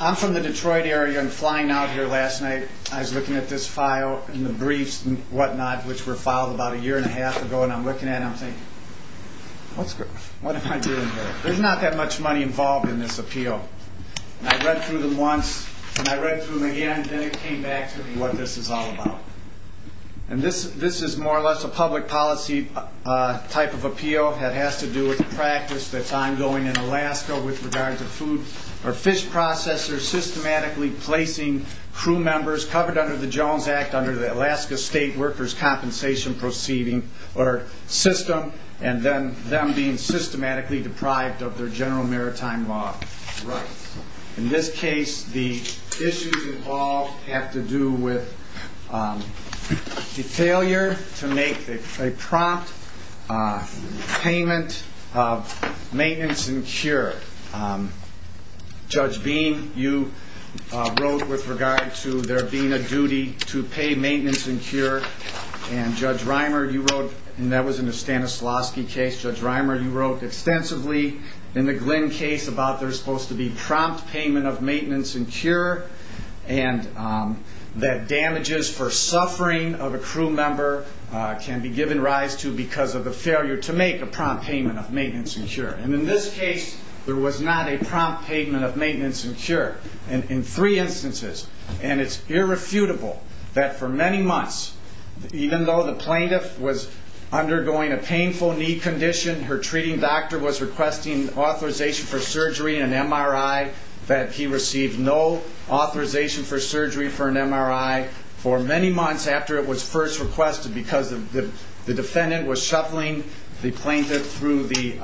I'm from the Detroit area and flying out here last night I was looking at this file in the briefs and whatnot which were filed about a year and a half ago and I'm looking at I'm saying what's good what am I doing here there's not that much money involved in this appeal I read through them once and I read through them again then it came back to me what this is all about and this this is more or less a public policy type of appeal that has to do with the practice that's ongoing in Alaska with regard to food or fish processors systematically placing crew members covered under the Jones Act under the Alaska state workers compensation proceeding or system and then them being systematically deprived of their general maritime law in this case the issues all have to do with the failure to make a prompt payment of maintenance and cure. Judge Beam you wrote with regard to there being a duty to pay maintenance and cure and Judge Reimer you wrote and that was in the Stanislavski case Judge Reimer you wrote extensively in the Glynn case about there's supposed to be prompt payment of can be given rise to because of the failure to make a prompt payment of maintenance and cure and in this case there was not a prompt payment of maintenance and cure and in three instances and it's irrefutable that for many months even though the plaintiff was undergoing a painful knee condition her treating doctor was requesting authorization for surgery and MRI that he received no authorization for surgery for an MRI for many months after it was first requested because of the defendant was shuffling the plaintiff through the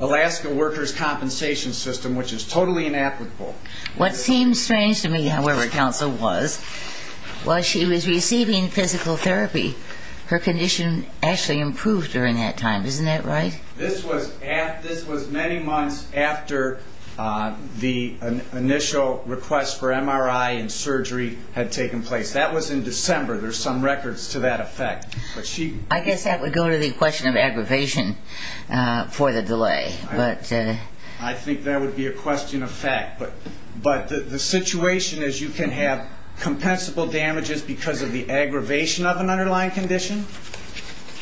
Alaska workers compensation system which is totally inapplicable. What seems strange to me however counsel was while she was receiving physical therapy her condition actually improved during that time isn't that right? This was many months after the initial request for MRI and surgery had taken place that was in December there's some records to that effect. I guess that would go to the question of aggravation for the delay. I think that would be a question of fact but the situation is you can have compensable damages because of the aggravation of an underlying condition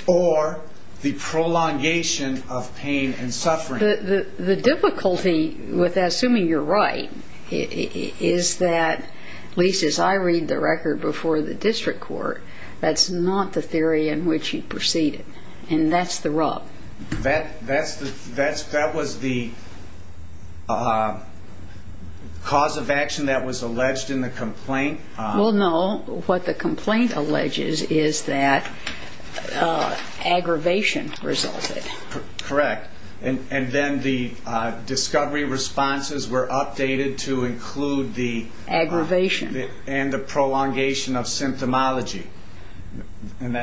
or the prolongation of pain and suffering. The difficulty with assuming you're right is that at least in the record before the district court that's not the theory in which he proceeded and that's the rub. That was the cause of action that was alleged in the complaint? Well no what the complaint alleges is that aggravation resulted. Correct and then the discovery responses were updated to include the aggravation and the prolongation of symptomology and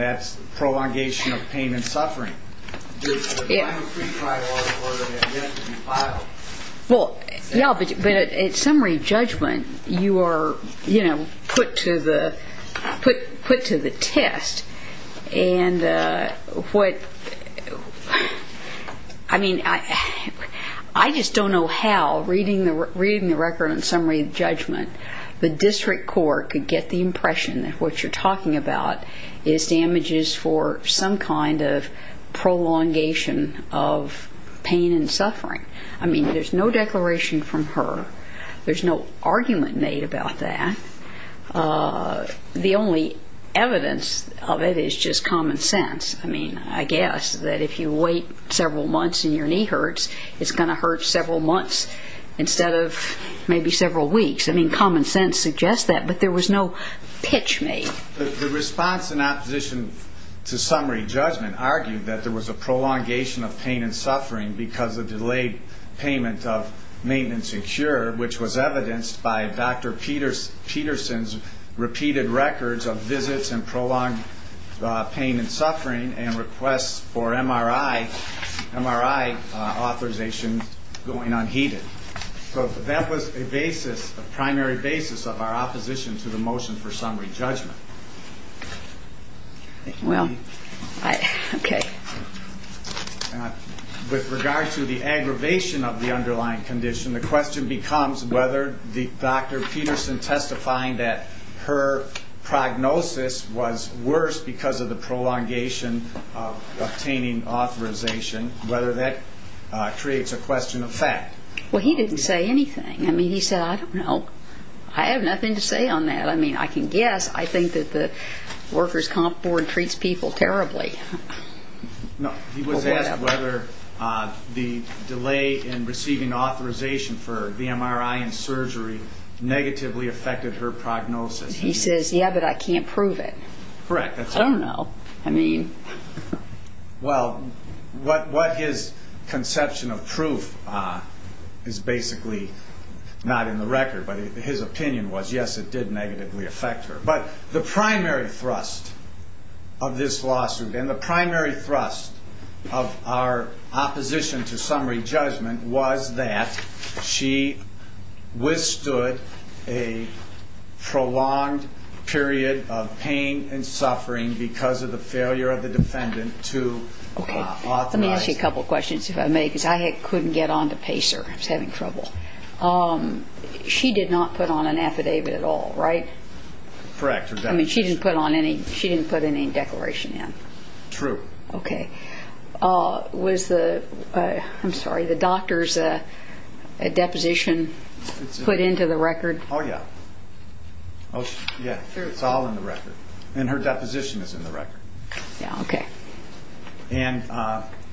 that's the prolongation of pain and suffering. Well yeah but at summary judgment you are you know put to the put to the test and what I mean I just don't know how reading the record and summary judgment the district court could get the impression that what you're talking about is damages for some kind of prolongation of pain and suffering. I mean there's no declaration from her. There's no argument made about that. The only evidence of it is just common sense. I mean I guess that if you wait several months and your knee hurts it's going to maybe several weeks. I mean common sense suggests that but there was no pitch made. The response in opposition to summary judgment argued that there was a prolongation of pain and suffering because of delayed payment of maintenance and cure which was evidenced by Dr. Peterson's repeated records of visits and prolonged pain and suffering and requests for MRI authorization going unheeded. So that was a basis a primary basis of our opposition to the motion for summary judgment. Well okay. With regard to the aggravation of the underlying condition the question becomes whether the Dr. Peterson testifying that her prognosis was worse because of the prolongation of obtaining authorization whether that creates a question of fact. Well he didn't say anything. I mean he said I don't know. I have nothing to say on that. I mean I can guess. I think that the workers comp board treats people terribly. He was asked whether the delay in receiving authorization for the MRI and surgery negatively affected her prognosis. He says yeah but I can't prove it. Correct. I don't know. I mean. Well what his conception of proof is basically not in the record but his opinion was yes it did negatively affect her. But the primary thrust of this lawsuit and the primary thrust of our opposition to summary judgment was that she withstood a prolonged period of pain and suffering because of the failure of the defendant to authorize. Let me ask you a couple questions if I may because I couldn't get on to pace or I was having trouble. She did not put on an affidavit at all right? Correct. I mean she didn't put on any she didn't put any declaration in. True. Okay. Was the I'm sorry the doctor's a deposition put into the record? Oh yeah. Oh yeah it's all in the record and her deposition is in the record. Yeah okay. And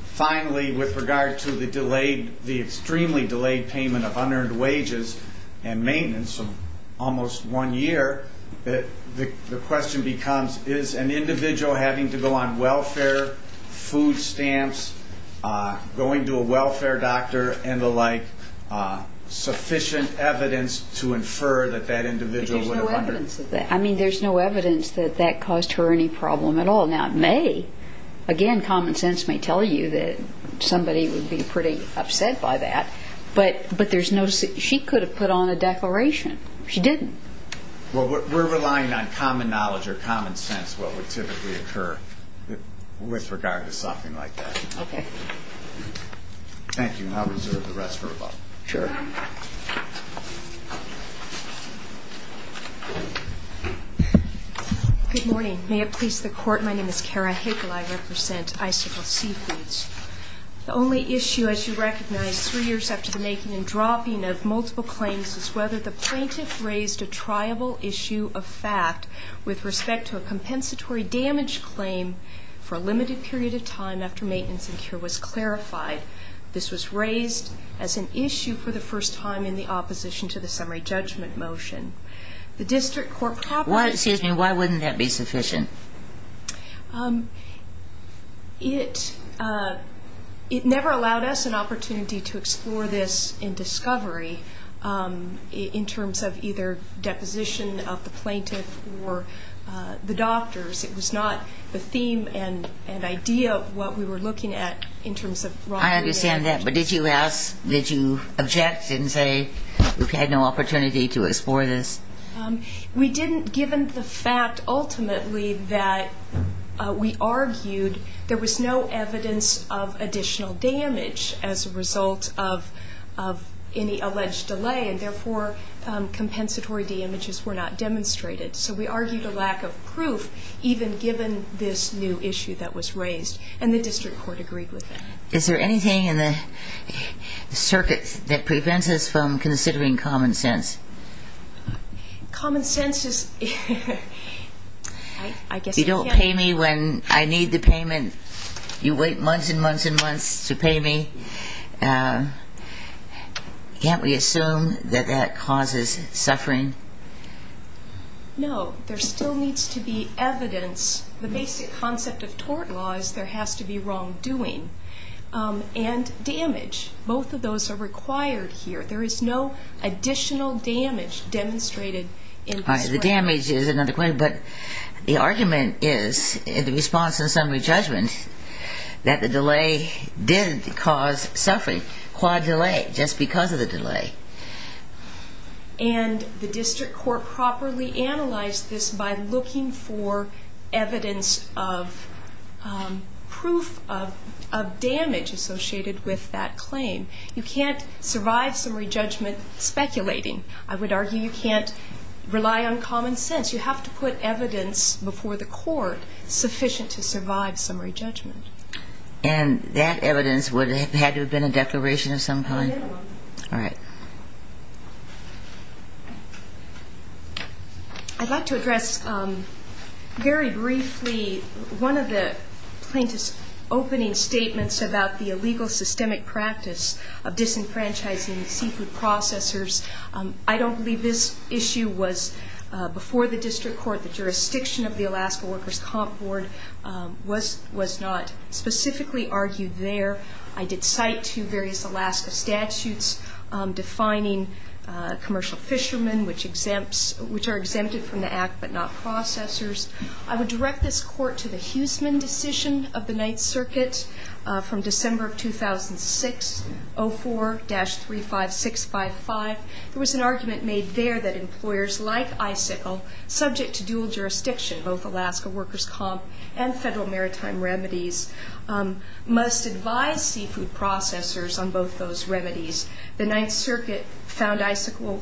finally with regard to the delayed the extremely delayed payment of unearned wages and maintenance of almost one year that the question becomes is an individual having to go on welfare food stamps going to a welfare doctor and the like sufficient evidence to infer that that individual. There's no evidence of that. I mean there's no evidence that that caused her any problem at all. Now it may again common sense may tell you that somebody would be pretty upset by that but but there's no she could have put on a declaration. She didn't. Well we're relying on common knowledge or common sense what would typically occur with regard to something like that. Okay. Thank you and I'll reserve the rest for a moment. Sure. Good morning may it please the court my name is Kara Hickel I represent Icicle Seafoods. The only issue as you recognize three years after the making and dropping of multiple claims is whether the plaintiff raised a triable issue of fact with respect to a compensatory damage claim for a limited period of time after maintenance and cure was clarified. This was raised as an issue for the first time in the opposition to the summary judgment motion. The district court property. Why excuse me why wouldn't that be sufficient? It it never allowed us an opportunity to explore this in discovery in terms of either deposition of the plaintiff or the doctors. It was not the theme and an idea of what we were looking at in terms of. I understand that but did you ask did you object and say we've had no opportunity to explore this? We didn't given the fact ultimately that we argued there was no evidence of additional damage as a result of of any alleged delay and therefore compensatory damages were not demonstrated. So we argued a lack of proof even given this new issue that was raised and the district court agreed with that. Is there anything in the circuit that prevents us from considering common sense? Common sense is I guess. You don't pay me when I need the payment. You wait months and months and months to pay me. Can't we assume that that causes suffering? No. There still needs to be evidence. The basic concept of tort law is there has to be wrongdoing and damage. Both of those are required here. There is no additional damage demonstrated. The damage is another question but the argument is in the response and summary judgment that the delay did cause suffering. Quad delay just because of the delay. And the proof of damage associated with that claim. You can't survive summary judgment speculating. I would argue you can't rely on common sense. You have to put evidence before the court sufficient to survive summary judgment. And that evidence would have had to have been a declaration of some kind? Yes. All right. I'd like to address very briefly one of the plaintiff's opening statements about the illegal systemic practice of disenfranchising seafood processors. I don't believe this issue was before the district court. The jurisdiction of the Alaska Workers Comp Board was not specifically argued there. I did cite two various Alaska statutes defining commercial fishermen which are exempted from the act but not processors. I would direct this court to the Huseman decision of the Ninth Circuit from December of 2006, 04-35655. There was an argument made there that employers like ICICL, subject to dual jurisdiction, both Alaska Workers Comp and Federal Maritime Remedies, must advise seafood processors on both those remedies. The Ninth Circuit found ICICL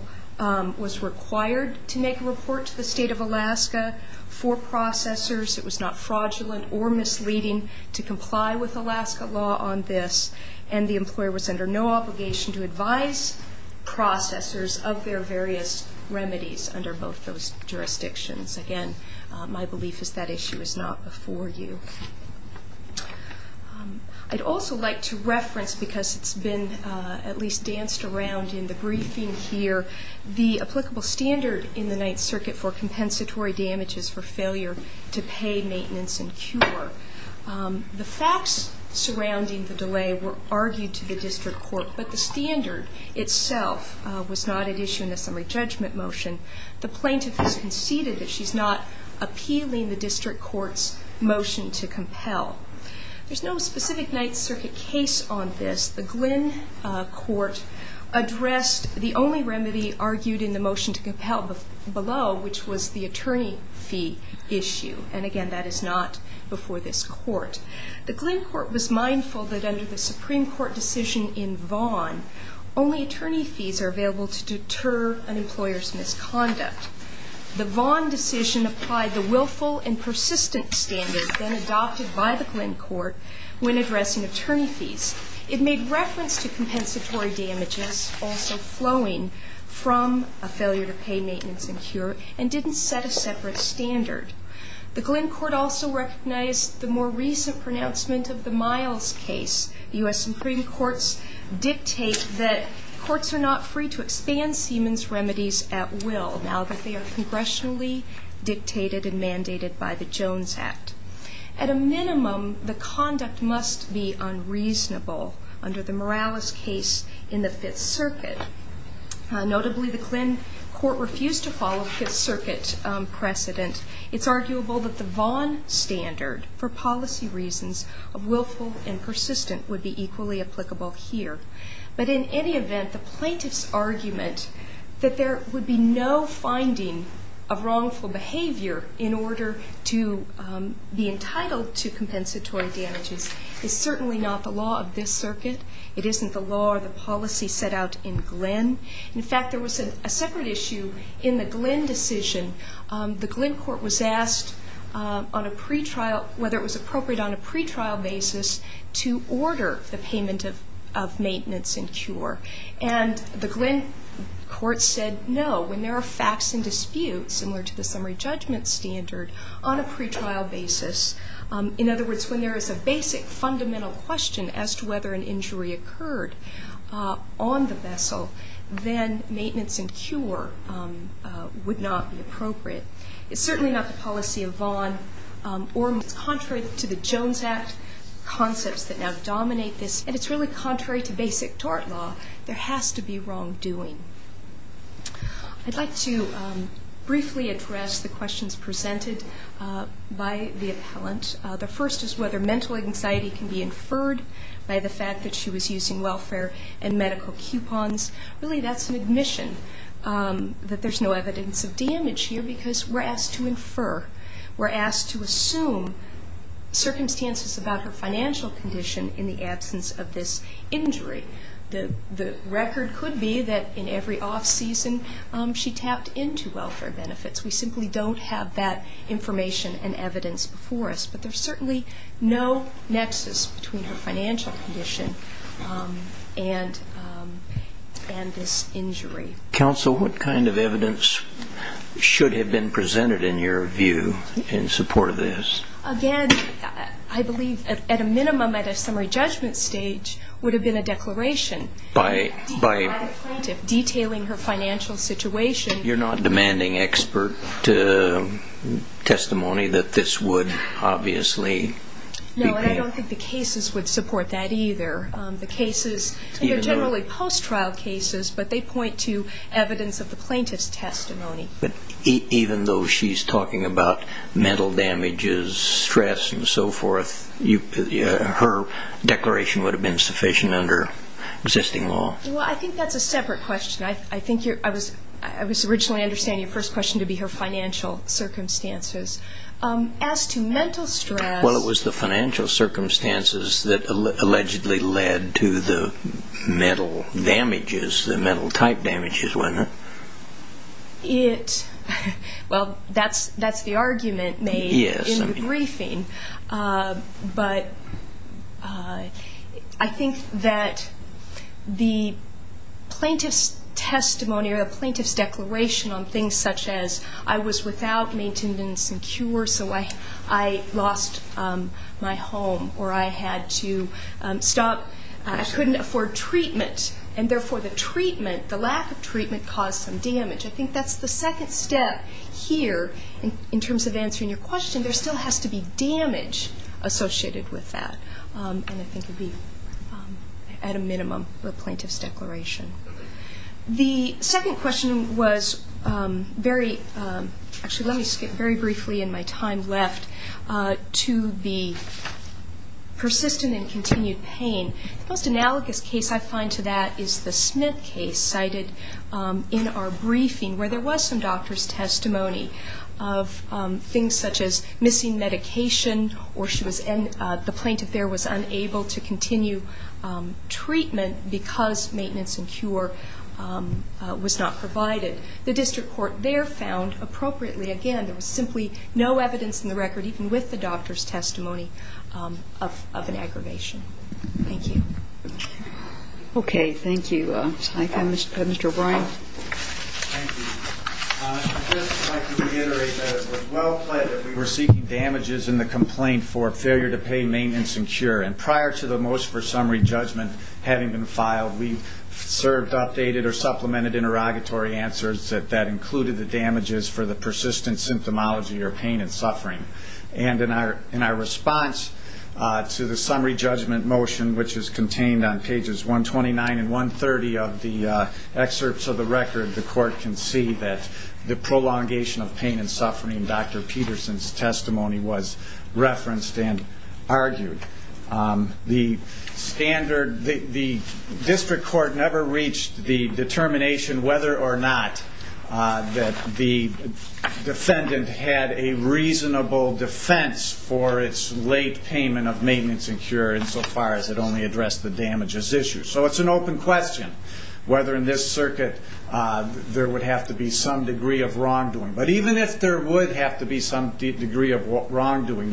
was required to make a report to the state of Alaska for processors. It was not fraudulent or misleading to comply with Alaska law on this. And the employer was under no obligation to advise processors of their various remedies under both those jurisdictions. Again, my belief is that issue is not before you. I'd also like to reference, because it's been at least danced around in the briefing here, the applicable standard in the Ninth Circuit for compensatory damages for failure to pay maintenance and cure. The facts surrounding the delay were argued to the district court but the standard itself was not at issue in the summary judgment motion. The plaintiff has conceded that she's not appealing the district court's motion to compel. There's no specific Ninth Circuit case on this. The Glynn Court addressed the only remedy argued in the motion to compel below, which was the attorney fee issue. And again, that is not before this court. The Glynn Court was mindful that under the Supreme Court decision in Vaughan, only attorney fees are available to deter an employer's conduct. The Vaughan decision applied the willful and persistent standard then adopted by the Glynn Court when addressing attorney fees. It made reference to compensatory damages also flowing from a failure to pay maintenance and cure and didn't set a separate standard. The Glynn Court also recognized the more recent pronouncement of the Miles case. U.S. Supreme Courts dictate that courts are not free to expand Siemens remedies at will now that they are congressionally dictated and mandated by the Jones Act. At a minimum, the conduct must be unreasonable under the Morales case in the Fifth Circuit. Notably, the Glynn Court refused to follow Fifth Circuit precedent. It's arguable that the Vaughan standard for policy reasons of willful and persistent would be equally applicable here. But in any event, the plaintiff's argument that there would be no finding of wrongful behavior in order to be entitled to compensatory damages is certainly not the law of this circuit. It isn't the law or the policy set out in Glynn. In fact, there was a separate issue in the Glynn decision. The Glynn Court was asked on a pretrial, whether it was appropriate on a pretrial basis to order the payment of maintenance and cure. And the Glynn Court said no. When there are facts in dispute, similar to the summary judgment standard, on a pretrial basis, in other words, when there is a basic fundamental question as to whether an injury occurred on the vessel, then maintenance and cure would not be appropriate. It's certainly not the policy of Vaughan. Contrary to the Jones Act concepts that now dominate this, and it's really contrary to basic tort law, there has to be wrongdoing. I'd like to briefly address the questions presented by the appellant. The first is whether mental anxiety can be inferred by the fact that she was using welfare and medical coupons. Really, that's an admission that there's no evidence of damage here because we're asked to infer, we're asked to assume circumstances about her financial condition in the absence of this injury. The record could be that in every off season she tapped into welfare benefits. We simply don't have that information and evidence before us. But there's certainly no nexus between her financial condition and this injury. Counsel, what kind of evidence should have been presented in your view in support of this? Again, I believe at a minimum, at a summary judgment stage, would have been a declaration. By detailing her financial situation. You're not demanding expert testimony that this would obviously be... No, and I don't think the cases would support that either. The cases, they're only post-trial cases, but they point to evidence of the plaintiff's testimony. But even though she's talking about mental damages, stress and so forth, her declaration would have been sufficient under existing law. Well, I think that's a separate question. I think I was originally understanding your first question to be her financial circumstances. As to mental stress... Well, it was the financial circumstances that allegedly led to the mental damages, the mental type damages, wasn't it? It... Well, that's the argument made in the briefing. But I think that the plaintiff's testimony or the plaintiff's declaration on things such as, I was without maintenance and cure, so I lost my home, or I had to stop... I couldn't afford treatment. And therefore, the treatment, the lack of treatment, caused some damage. I think that's the second step here, in terms of answering your question. There still has to be damage associated with that. And I think it would be, at a minimum, the plaintiff's declaration. The second question was very... Actually, let me skip very briefly in my time left to the persistent and continued pain. The most analogous case I find to that is the Smith case cited in our briefing, where there was some doctor's testimony of things such as missing medication, or the plaintiff there was not provided. The district court there found, appropriately, again, there was simply no evidence in the record, even with the doctor's testimony, of an aggravation. Thank you. Okay, thank you. Mr. O'Brien. Thank you. I'd just like to reiterate that it was well-plaid that we were seeking damages in the complaint for failure to pay maintenance and cure. And prior to the motion for summary judgment having been filed, we served updated or supplemented interrogatory answers that included the damages for the persistent symptomology, or pain and suffering. And in our response to the summary judgment motion, which is contained on pages 129 and 130 of the excerpts of the record, the court can see that the prolongation of pain and suffering, the standard, the district court never reached the determination whether or not that the defendant had a reasonable defense for its late payment of maintenance and cure, insofar as it only addressed the damages issue. So it's an open question whether in this circuit there would have to be some degree of wrongdoing. But even if there would have to be some degree of wrongdoing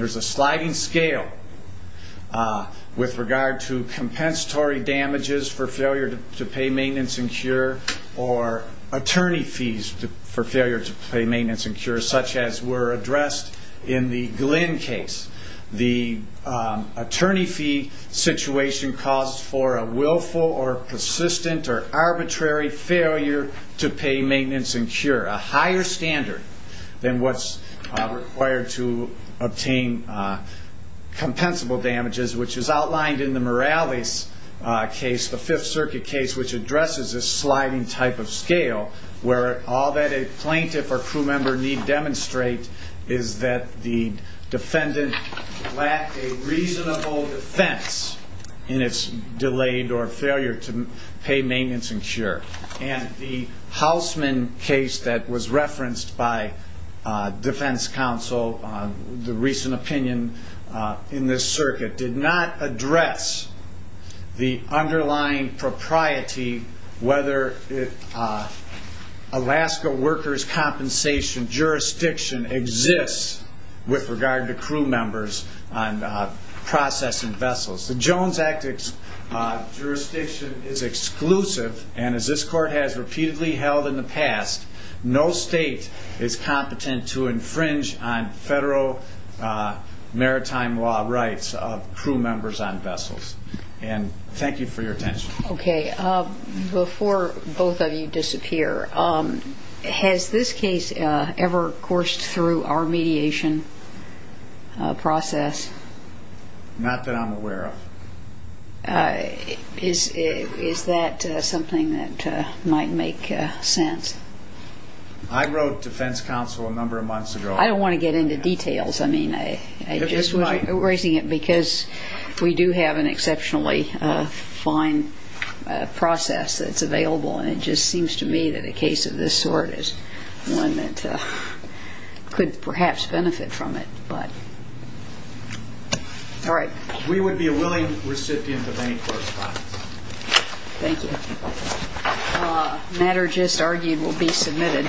with regard to compensatory damages for failure to pay maintenance and cure, or attorney fees for failure to pay maintenance and cure, such as were addressed in the Glynn case. The attorney fee situation caused for a willful or persistent or arbitrary failure to pay maintenance and cure. A higher standard than what's required to obtain compensable damages, which is outlined in the Morales case, the Fifth Circuit case, which addresses a sliding type of scale, where all that a plaintiff or crew member need demonstrate is that the defendant lacked a reasonable defense in its delayed or failure to pay maintenance and cure. And the Hausman case that was referenced by defense counsel, the recent opinion in this circuit, did not address the underlying propriety, whether Alaska workers' compensation jurisdiction exists with regard to crew members on processing vessels. The Jones Act jurisdiction is exclusive, and as this court has repeatedly held in the past, no state is competent to infringe on federal maritime law rights of crew members on vessels. And thank you for your attention. Okay. Before both of you disappear, has this case ever coursed through our mediation process? Not that I'm aware of. Is that something that might make sense? I wrote defense counsel a number of months ago. I don't want to get into details. I mean, I just was raising it because we do have an exceptionally fine process that's available, and it just seems to me that a case of this sort is one that could perhaps benefit from it. But, all right. We would be a willing recipient of any correspondence. Thank you. Matter just argued will be submitted.